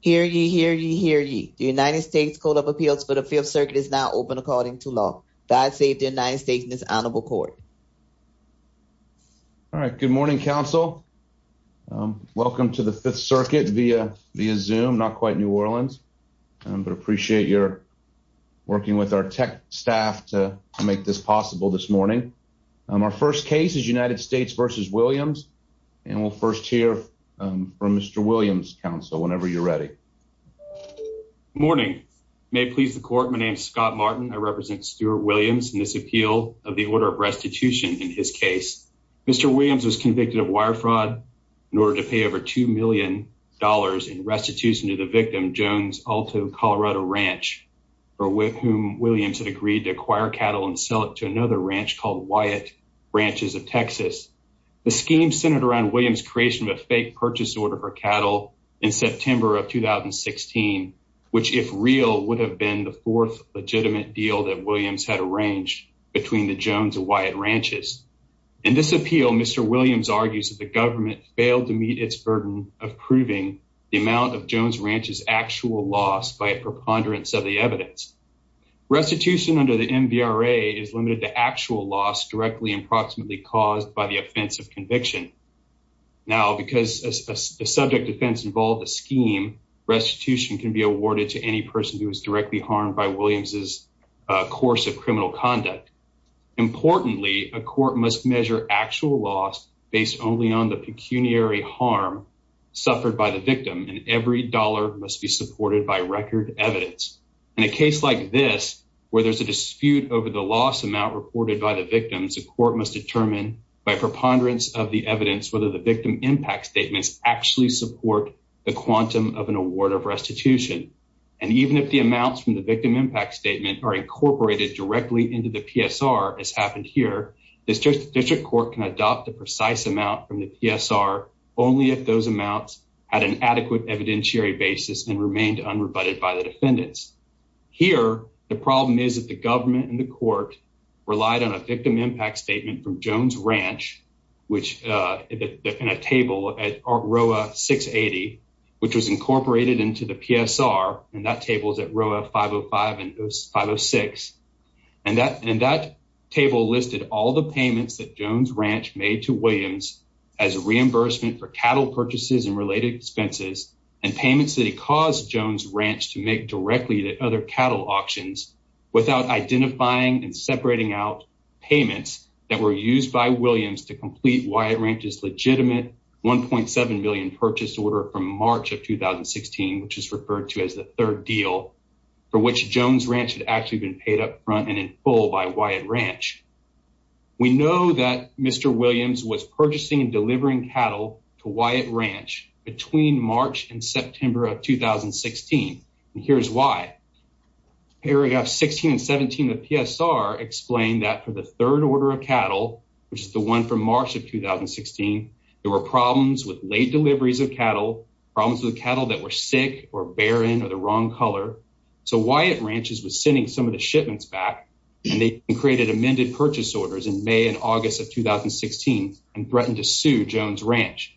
Hear ye, hear ye, hear ye. The United States Code of Appeals for the Fifth Circuit is now open according to law. God save the United States and this honorable court. All right, good morning, counsel. Welcome to the Fifth Circuit via Zoom, not quite New Orleans, but appreciate your working with our tech staff to make this possible this morning. Our first case is United States v. Williams, and we'll first hear from Mr. Williams, counsel, whenever you're ready. Good morning. May it please the court, my name is Scott Martin. I represent Stuart Williams in this appeal of the order of restitution in his case. Mr. Williams was convicted of wire fraud in order to pay over $2 million in restitution to the victim, Jones Alto Colorado Ranch, with whom Williams had agreed to acquire cattle and sell to another ranch called Wyatt Ranches of Texas. The scheme centered around Williams creation of a fake purchase order for cattle in September of 2016, which if real would have been the fourth legitimate deal that Williams had arranged between the Jones and Wyatt ranches. In this appeal, Mr. Williams argues that the government failed to meet its burden of proving the amount of Jones is limited to actual loss directly and proximately caused by the offense of conviction. Now, because a subject defense involved a scheme, restitution can be awarded to any person who is directly harmed by Williams's course of criminal conduct. Importantly, a court must measure actual loss based only on the pecuniary harm suffered by the victim, and every dollar must be supported by reported by the victims, the court must determine by preponderance of the evidence whether the victim impact statements actually support the quantum of an award of restitution. And even if the amounts from the victim impact statement are incorporated directly into the PSR, as happened here, this district court can adopt the precise amount from the PSR only if those amounts had an adequate evidentiary basis and remained unrebutted by the defendants. Here, the problem is that the court relied on a victim impact statement from Jones Ranch, which in a table at ROA 680, which was incorporated into the PSR, and that table is at ROA 505 and 506. And that table listed all the payments that Jones Ranch made to Williams as reimbursement for cattle purchases and related expenses and payments that he caused Jones Ranch to make directly to other cattle auctions without identifying and separating out payments that were used by Williams to complete Wyatt Ranch's legitimate $1.7 million purchase order from March of 2016, which is referred to as the third deal, for which Jones Ranch had actually been paid up front and in full by Wyatt Ranch. We know that Mr. Williams was purchasing and delivering cattle to Wyatt Ranch between March and September of 2016. And here's why. Paragraph 16 and 17 of the PSR explain that for the third order of cattle, which is the one from March of 2016, there were problems with late deliveries of cattle, problems with cattle that were sick or barren or the wrong color. So Wyatt Ranch was sending some of the shipments back and they created amended purchase orders in May and August of 2016 and threatened to sue Jones Ranch.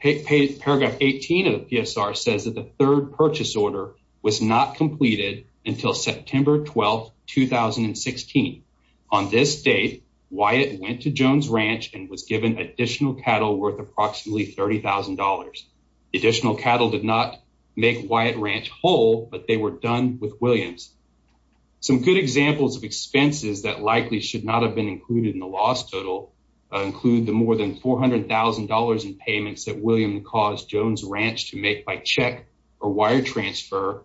Paragraph 18 of the PSR says that the third purchase order was not completed until September 12, 2016. On this date, Wyatt went to Jones Ranch and was given additional cattle worth approximately $30,000. The additional cattle did not make Wyatt Ranch whole, but they were done with Williams. Some good examples of expenses that include the more than $400,000 in payments that Williams caused Jones Ranch to make by check or wire transfer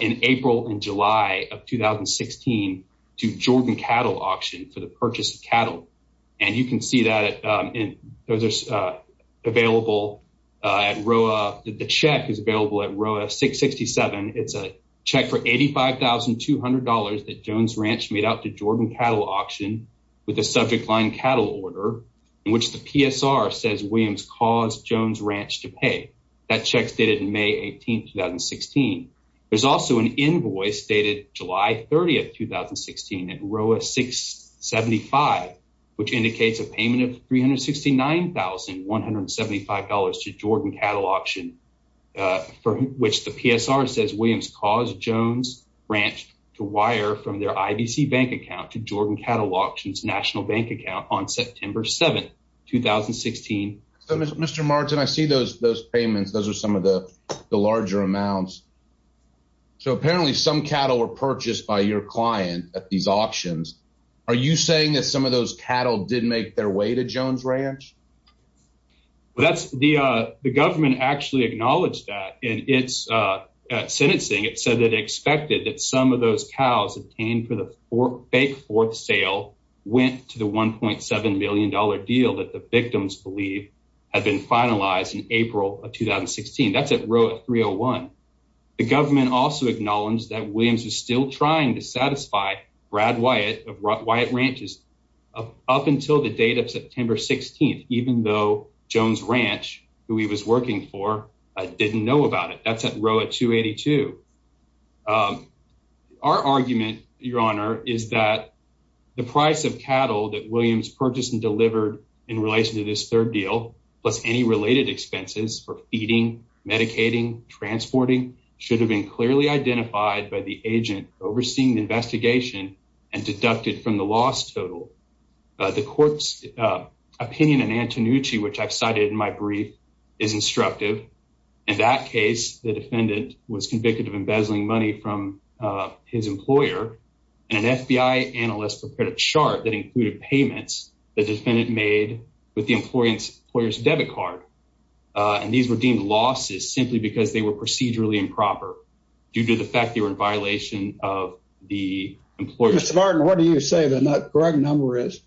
in April and July of 2016 to Jordan Cattle Auction for the purchase of cattle. And you can see that those are available at ROA. The check is available at ROA 667. It's a check for $85,200 that Jones Ranch made out to Jordan Cattle Auction with a subject line cattle order in which the PSR says Williams caused Jones Ranch to pay. That check's dated May 18, 2016. There's also an invoice dated July 30, 2016 at ROA 675, which indicates a payment of $369,175 to Jordan Cattle Auction for which the PSR says Williams caused Jones Ranch to wire from their IBC bank account to Jordan Cattle Auction's national bank account on September 7, 2016. So Mr. Martin, I see those payments. Those are some of the larger amounts. So apparently some cattle were purchased by your client at these auctions. Are you saying that some of those cattle did make their way to Jones Ranch? The government actually acknowledged that in its sentencing. It said that it expected that some of those cows obtained for the fake fourth sale went to the $1.7 million deal that the victims believe had been finalized in April of 2016. That's at ROA 301. The government also acknowledged that Williams is still trying to satisfy Brad Wyatt of Wyatt Ranch up until the date of September 16, even though Jones Ranch, who he was working for, didn't know about it. That's at ROA 282. Our argument, Your Honor, is that the price of cattle that Williams purchased and delivered in relation to this third deal, plus any related expenses for feeding, medicating, transporting, should have been clearly identified by the agent overseeing the investigation and deducted from the loss total. The court's opinion in Antonucci, which I've cited in my brief, is instructive. In that case, the defendant was convicted of embezzling money from his employer, and an FBI analyst prepared a chart that included payments the defendant made with the employer's debit card. And these were deemed losses simply because they were procedurally improper due to the fact they were in violation of the employer's. Mr. Varden, what do you say the correct number is?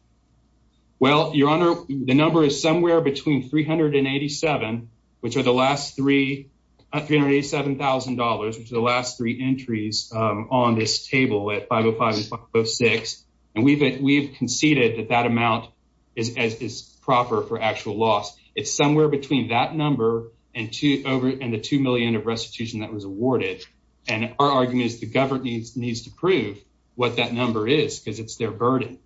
Well, Your Honor, the number is somewhere between $387,000, which are the last three entries on this table at 505 and 506. And we've conceded that that amount is proper for actual loss. It's somewhere between that number and the $2 million of restitution that was awarded. And our argument is the government needs to prove what that number is, because it's their burden.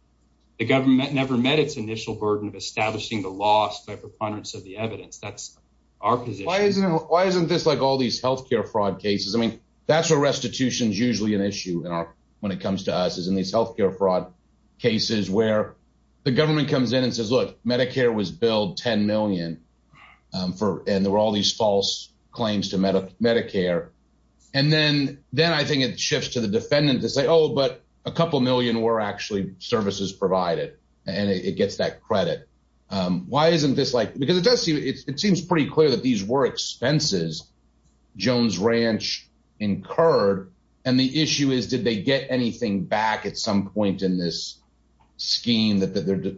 The government never met its initial burden of establishing the loss by preponderance of the evidence. That's our position. Why isn't this like all these health care fraud cases? I mean, that's where restitution is usually an issue when it comes to us, is in these health care fraud cases where the government comes in and says, look, Medicare was billed $10 million, and there were all these false claims to Medicare. And then I think it shifts to the defendant to say, oh, but a couple million were actually services provided, and it gets that credit. Why isn't this like, because it does seem, it seems pretty clear that these were expenses Jones Ranch incurred. And the issue is, did they get anything back at some point in this scheme that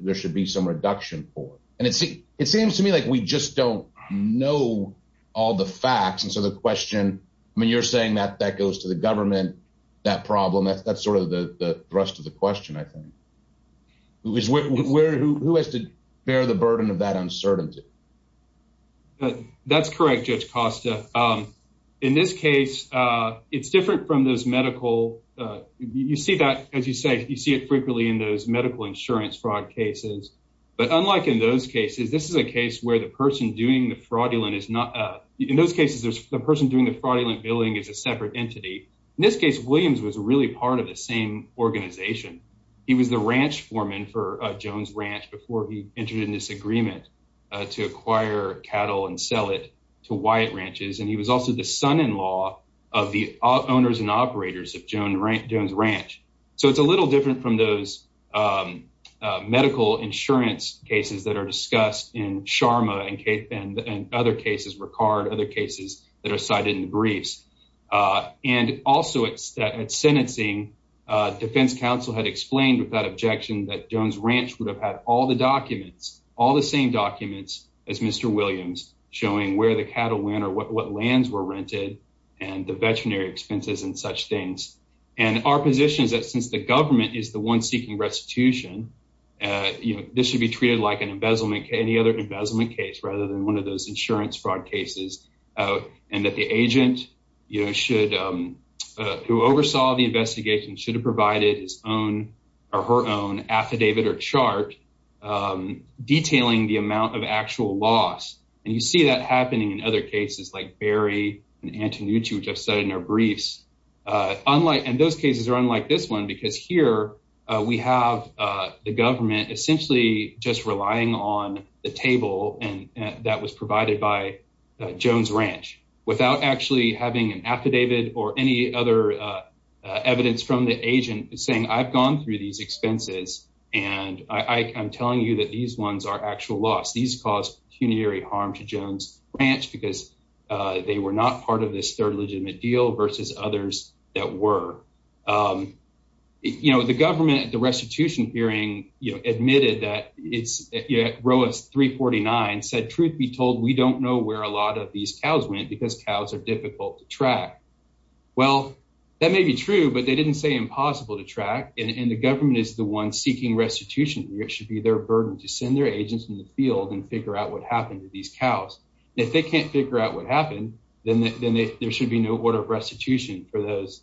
there should be some reduction for? And it seems to me like we just don't know all the facts. And so the question, I mean, you're saying that that goes to the government, that problem, that's sort of the thrust of the question, I think. Who has to bear the burden of that uncertainty? That's correct, Judge Costa. In this case, it's different from those medical, you see that, as you say, you see it frequently in those medical insurance fraud cases. But unlike in those cases, this is a case where the person doing the fraudulent billing is a separate entity. In this case, Williams was really part of the same organization. He was a ranch foreman for Jones Ranch before he entered in this agreement to acquire cattle and sell it to Wyatt Ranches. And he was also the son-in-law of the owners and operators of Jones Ranch. So it's a little different from those medical insurance cases that are discussed in Sharma and other cases, Ricard, other cases that are cited in the briefs. And also at sentencing, defense counsel had explained with that objection that Jones Ranch would have had all the documents, all the same documents as Mr. Williams, showing where the cattle went or what lands were rented and the veterinary expenses and such things. And our position is that since the government is the one seeking restitution, this should be treated like an embezzlement, any other embezzlement case rather than one of those insurance fraud cases. And that the agent who oversaw the investigation should have provided his own or her own affidavit or chart detailing the amount of actual loss. And you see that happening in other cases like Berry and Antonucci, which I've said in our briefs. And those cases are unlike this one because here we have the government essentially just relying on the table that was provided by Jones Ranch without actually having an affidavit or any other evidence from the agent saying I've gone through these expenses and I'm telling you that these ones are actual loss. These cause pecuniary harm to Jones Ranch because they were not part of this third legitimate deal versus others that were. You know, the government at the restitution hearing, you know, admitted that it's Roas 349 said, truth be told, we don't know where a lot of these cows went because cows are difficult to track. Well, that may be true, but they didn't say impossible to track. And the government is the one seeking restitution. It should be their burden to send their agents in the field and figure out what happened to these cows. If they can't figure out what happened, then there should be no order of restitution for those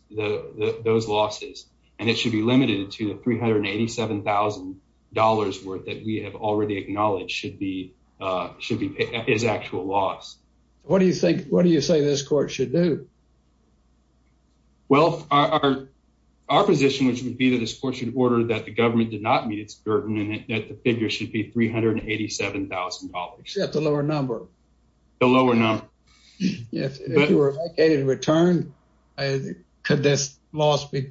losses. And it should be limited to the $387,000 worth that we have already acknowledged should be, uh, should be his actual loss. What do you think? What do you say this court should do? Well, our our position, which would be that this court should order that the government did not meet its burden and that the figure should be $387,000. That's a lower number. The lower number. If you were vacated in return, could this loss be?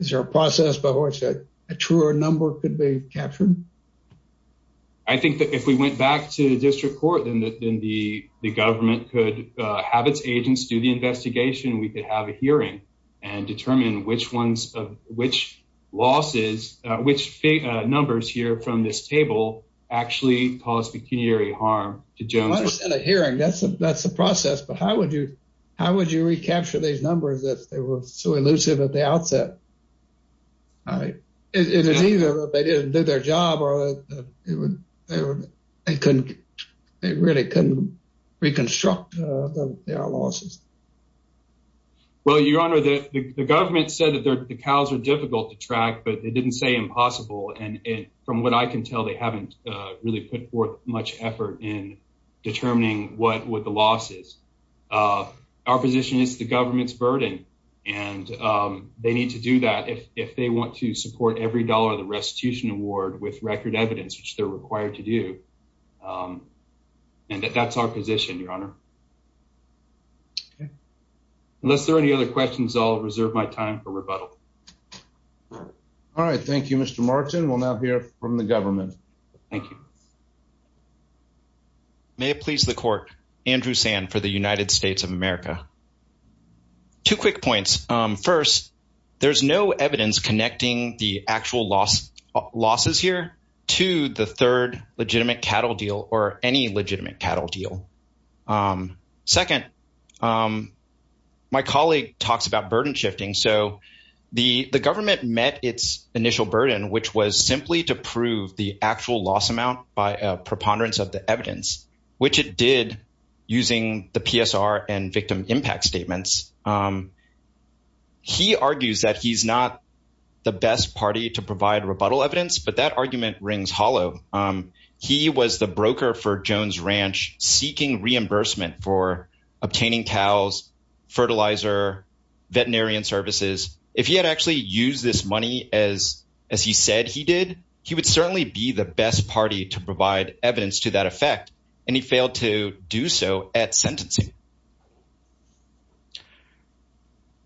Is there a process by which a truer number could be captured? I think that if we went back to the district court, then the government could have its agents do the investigation. We could have a hearing and determine which ones of which losses which numbers here from this table actually cause pecuniary harm to Jones hearing. That's that's the process. But how would you? How would you it is either they didn't do their job or they couldn't. They really couldn't reconstruct their losses. Well, your honor, the government said that the cows are difficult to track, but they didn't say impossible. And from what I can tell, they haven't really put forth much effort in determining what would the losses. Uh, our position is the government's burden, and, um, they need to do that if they want to support every dollar of the restitution award with record evidence, which they're required to do. Um, and that's our position, your honor. Unless there any other questions, I'll reserve my time for rebuttal. All right. Thank you, Mr Martin. We'll not hear from the government. Thank you. May it please the court. Andrew Sand for the United States of America. Two quick points. Um, first, there's no evidence connecting the actual loss losses here to the third legitimate cattle deal or any legitimate cattle deal. Um, second, um, my colleague talks about burden shifting. So the government met its initial burden, which was simply to prove the actual loss amount by a preponderance of the evidence, which it did using the PSR and victim impact statements. Um, he argues that he's not the best party to provide rebuttal evidence, but that argument rings hollow. Um, he was the broker for Jones Ranch seeking reimbursement for obtaining cows, fertilizer, veterinarian services. If he had actually used this money as, as he said he did, he would certainly be the best party to provide evidence to that effect. And he failed to do so at sentencing.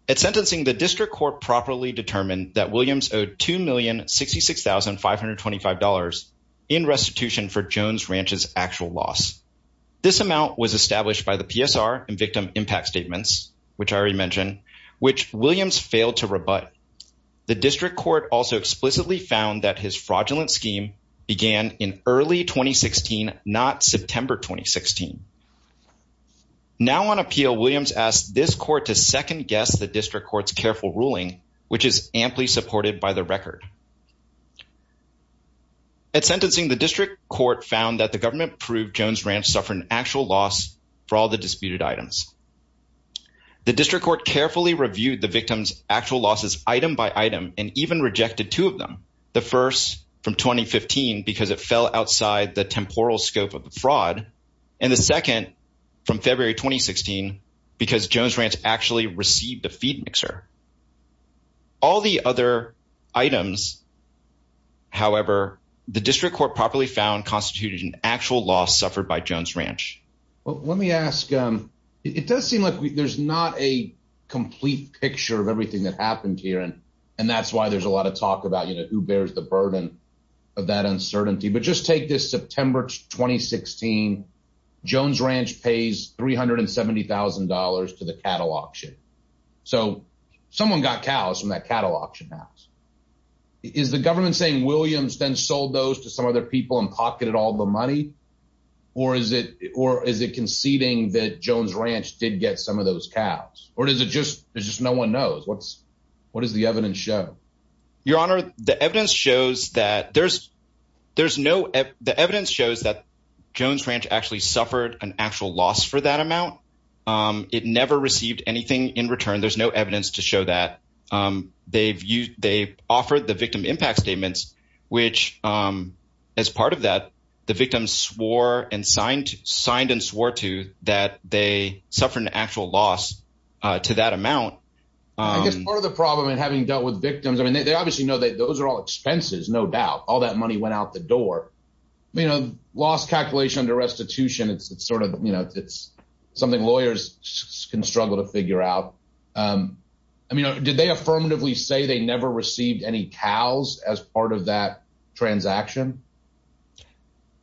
At sentencing, the district court properly determined that Williams owed $2,066,525 in restitution for Jones Ranch's actual loss. This amount was established by the PSR and victim impact statements, which I already mentioned, which Williams failed to rebut. The district court also explicitly found that his fraudulent scheme began in early 2016, not September 2016. Now on appeal, Williams asked this court to second guess the district court's careful ruling, which is amply supported by the record. At sentencing, the district court found that the government proved Jones Ranch suffered an actual loss for all the disputed items. The district court carefully reviewed the victim's actual losses item by item and even rejected two of them. The first from 2015, because it fell outside the temporal scope of the fraud. And the second from February, 2016, because Jones Ranch actually received a feed mixer. All the other items. However, the district court properly found constituted an actual loss suffered by Jones Ranch. Well, let me ask, um, it does seem like there's not a complete picture of everything that happened here. And, and that's why there's a lot of talk about, you know, who bears the burden of that uncertainty, but just take this September, 2016, Jones Ranch pays $370,000 to the cattle auction. So someone got cows from that cattle auction house. Is the government saying Williams then sold those to some other people and pocketed all the money or is it, or is it conceding that Jones Ranch did get some of those cows or does it just, there's just no one knows what's, what does the evidence show? Your honor, the evidence shows that there's, there's no, the evidence shows that Jones Ranch actually suffered an actual loss for that amount. Um, it never received anything in return. There's no evidence to show that, um, they've used, they've offered the victim impact statements, which, um, as part of that, the victims swore and signed, signed and swore to that they suffered an actual loss, uh, to that amount. I guess part of the problem in having dealt with victims, I mean, they obviously know that those are all expenses, no doubt, all that money went out the door, you know, lost calculation under restitution. It's sort of, you know, it's something lawyers can struggle to figure out. Um, I mean, did they affirmatively say they never received any cows as part of that transaction?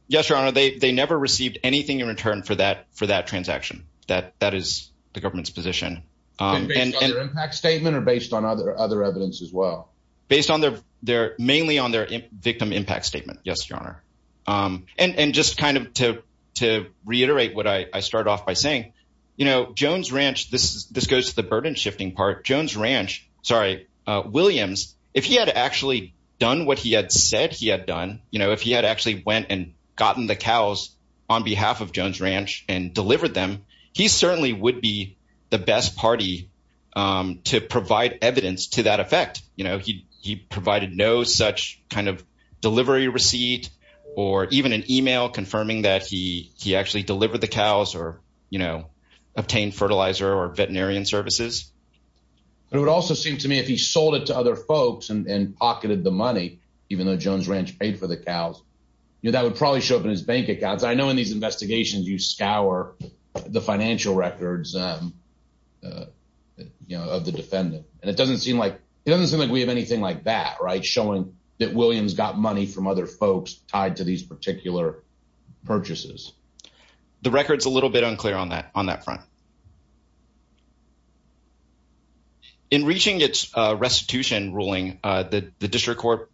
Yes, your honor. They, they never received anything in return for that, for that transaction that, that is the government's position, um, impact statement or based on other, other evidence as well. Based on their, their mainly on their victim impact statement. Yes, your honor. Um, and, and just kind of to, to reiterate what I started off by saying, you know, Jones ranch, this is, this goes to the burden shifting part, Jones ranch, sorry, uh, Williams, if he had actually done what he had said he had done, you know, if he had actually went and gotten the cows on behalf of Jones ranch and delivered them, he certainly would be the best party, um, to provide evidence to that effect. You know, he, he provided no such kind of delivery receipt or even an email confirming that he, he actually delivered the cows or, you know, obtain fertilizer or veterinarian services. But it would also seem to me if he sold it to other folks and pocketed the money, even though Jones ranch paid for the cows, you know, that would probably show up in his bank accounts. I know in these investigations, you scour the financial records, um, uh, you know, of the defendant. And it doesn't seem like it doesn't seem like we have anything like that, right. Showing that Williams got money from other folks tied to these particular purchases. The record's a little bit unclear on that, on that front. In reaching its, uh, restitution ruling, uh, the, the district court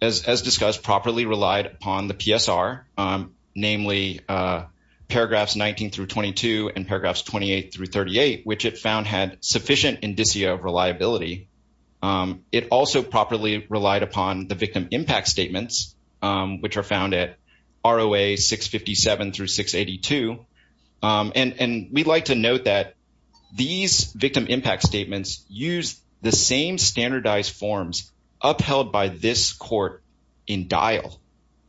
as, as discussed properly relied upon the PSR, um, namely, uh, paragraphs 19 through 22 and paragraphs 28 through 38, which it found had sufficient indicia of reliability. Um, it also properly relied upon the victim impact statements, um, which are found at ROA 657 through 682. Um, and, and we'd like to note that these victim impact statements use the same standardized forms upheld by this court in dial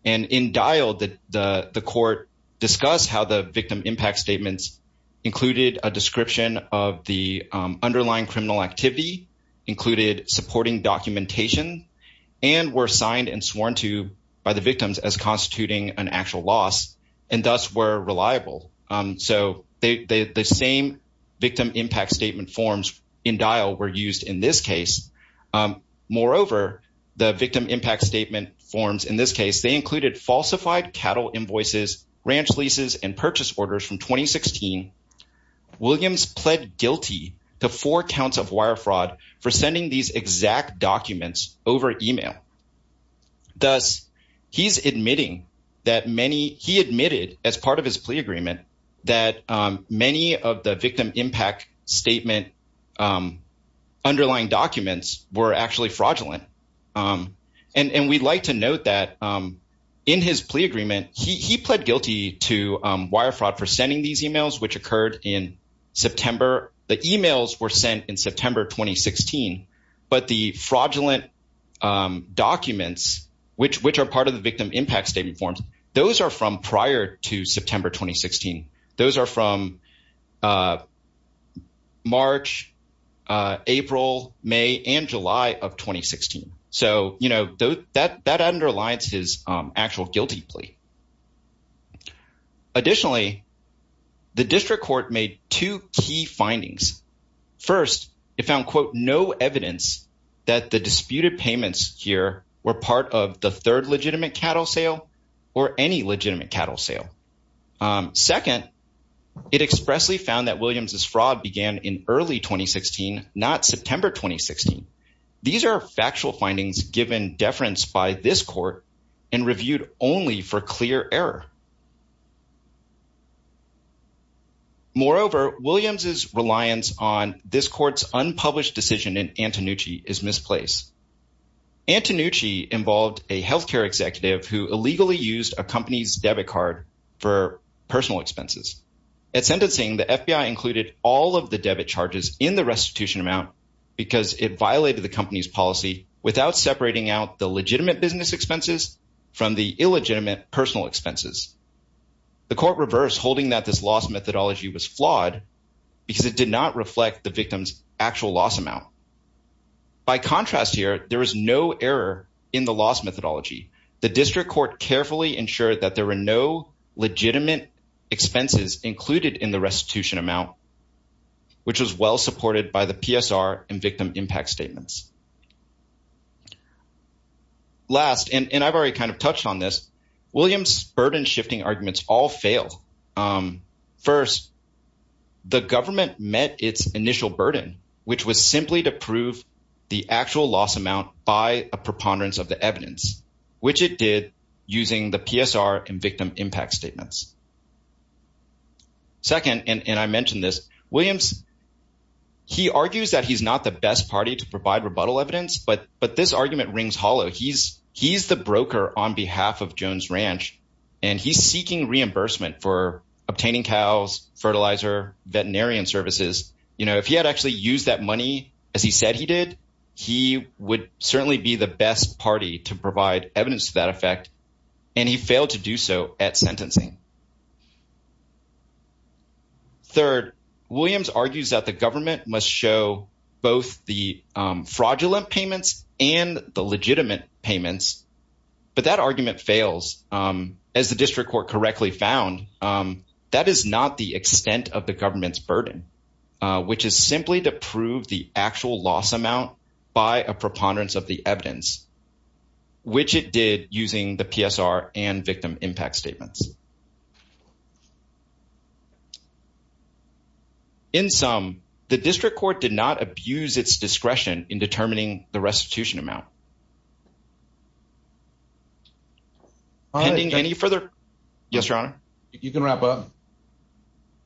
and in dial that the, the court discuss how the victim impact statements included a description of the, um, underlying criminal activity included supporting documentation and were signed and sworn to by the victims as constituting an actual loss and thus were reliable. Um, so they, they, the same victim impact statement forms in dial were used in this case. Um, moreover, the victim impact statement forms in this case, they included falsified cattle invoices, ranch leases, and purchase orders from 2016. Williams pled guilty to four counts of wire fraud for sending these exact documents over email. Thus he's admitting that many, he admitted as part of his plea agreement that, um, many of the victim impact statement, um, underlying documents were actually fraudulent. Um, and, and we'd like to note that, um, in his plea agreement, he, he pled guilty to, um, wire fraud for sending these emails, which occurred in September. The emails were sent in September, 2016, but the fraudulent, um, documents, which, which are part of the victim impact statement forms. Those are from prior to September, 2016. Those are from, uh, March, uh, April, May, and July of 2016. So, you know, that, that underlines his, um, actual guilty plea. Additionally, the district court made two key findings. First, it found quote, no evidence that the disputed payments here were part of the third legitimate cattle sale or any legitimate cattle sale. Um, second, it expressly found that Williams's fraud began in early 2016, not September, 2016. These are factual findings given deference by this court and reviewed only for clear error. Moreover, Williams's reliance on this court's unpublished decision in Antonucci is misplaced. Antonucci involved a healthcare executive who illegally used a company's debit card for personal expenses. At sentencing, the FBI included all of the debit charges in the restitution amount because it violated the company's policy without separating out the legitimate business expenses from the illegitimate personal expenses. The court reversed holding that this loss methodology was flawed because it did not reflect the victim's actual loss amount. By contrast here, there was no error in the loss methodology. The district court carefully ensured that there were no legitimate expenses included in the restitution amount, which was well supported by the PSR and victim impact statements. Last, and I've already kind of touched on this, Williams's burden shifting arguments all fail. First, the government met its initial burden, which was simply to prove the actual loss amount by a preponderance of the evidence, which it did using the PSR and victim impact statements. Second, and I mentioned this, Williams, he argues that he's not the best party to provide rebuttal evidence, but this argument rings hollow. He's the broker on behalf of Jones Ranch, and he's seeking reimbursement for obtaining cows, fertilizer, veterinarian services. You know, if he had actually used that money, as he said he did, he would certainly be the best party to provide evidence to that effect, and he failed to do so at sentencing. Third, Williams argues that the government must show both the fraudulent payments and the legitimate payments, but that argument fails. As the district court correctly found, that is not the extent of the government's burden, which is simply to prove the actual loss amount by a preponderance of the evidence, which it did using the PSR and victim impact statements. In sum, the district court did not abuse its discretion in determining the restitution amount. All right. Pending any further... Yes, Your Honor. You can wrap up.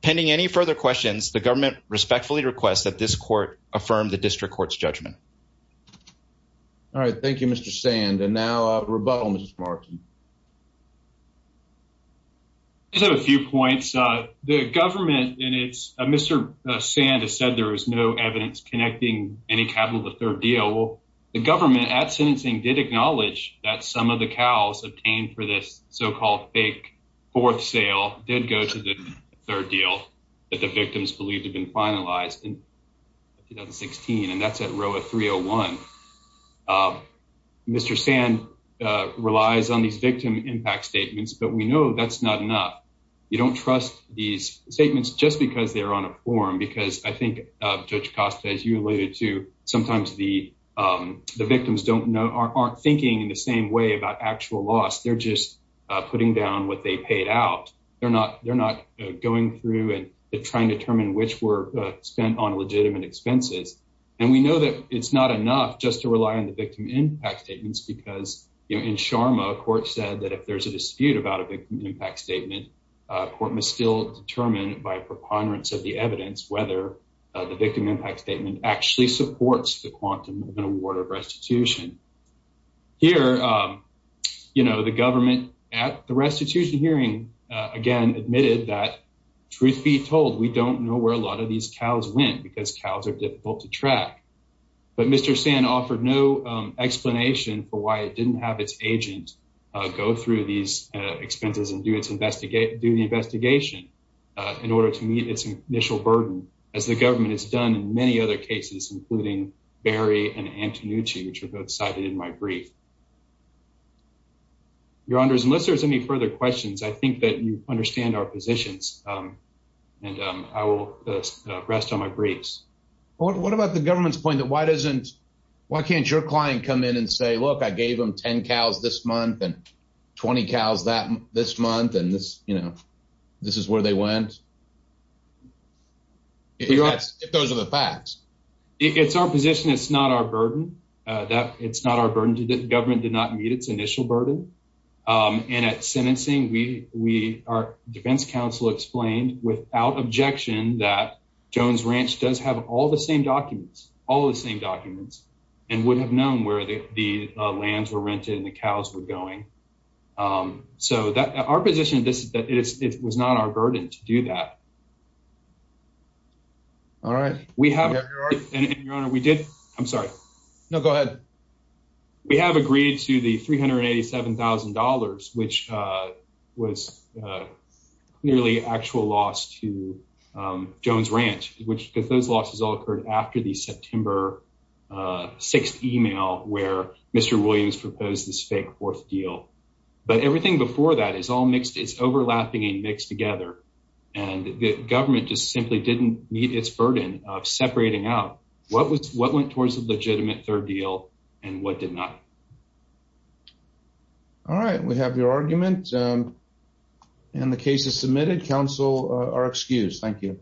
Pending any further questions, the government respectfully requests that this court affirm the district court's judgment. All right. Thank you, Mr. Sand. And now, rebuttal, Mr. Martin. I just have a few points. The government and it's... Mr. Sand has said there is no evidence connecting any capital to the third deal. Well, the government at sentencing did acknowledge that some of the cows obtained for this so-called fake fourth sale did go to the third deal that the victims believed had been finalized in 2016, and that's at row 301. Mr. Sand relies on these victim impact statements, but we know that's not enough. You don't trust these statements just because they're on a form, because I think, Judge Costa, as you alluded to, sometimes the victims aren't thinking in the same way about actual loss. They're just putting down what they paid out. They're not going through and trying to determine which were spent on legitimate expenses. And we know that it's not enough just to rely on the victim impact statements, because in Sharma, a court said that if there's a dispute about a victim impact statement, a court must still determine by preponderance of the evidence whether the victim impact statement actually supports the quantum of an award of restitution. Here, you know, the government at the restitution hearing, again, admitted that, truth be told, we don't know where a lot of these cows went because cows are difficult to track. But Mr. Sand offered no explanation for why it didn't have its agent go through these expenses and do the investigation in order to meet its initial burden, as the government has done in many other cases, including Barry and Antonucci, which were both cited in my brief. Your Honors, unless there's any further questions, I think that you understand our positions, and I will rest on my briefs. What about the government's point that why can't your client come in and say, look, I gave them 10 cows this month and 20 cows this month, and this, you know, this is where they went? If those are the facts. It's our position. It's not our burden. It's not our burden. The government did not meet its initial burden. And at sentencing, our defense counsel explained without objection that Jones Ranch does have all the same documents, all the same documents, and would have known where the lands were rented and the cows were going. So our position is that it was not our burden to do that. All right. We have, and Your Honor, we did, I'm sorry. No, go ahead. We have agreed to the $387,000, which was clearly actual loss to Jones Ranch, because those losses all occurred after the September 6th email where Mr. Williams proposed this fake fourth deal. But everything before that is all mixed. It's overlapping and mixed together, and the government just simply didn't meet its burden of separating out what went towards the legitimate third deal and what did not. All right. We have your argument, and the case is submitted. Counsel are excused. Thank you.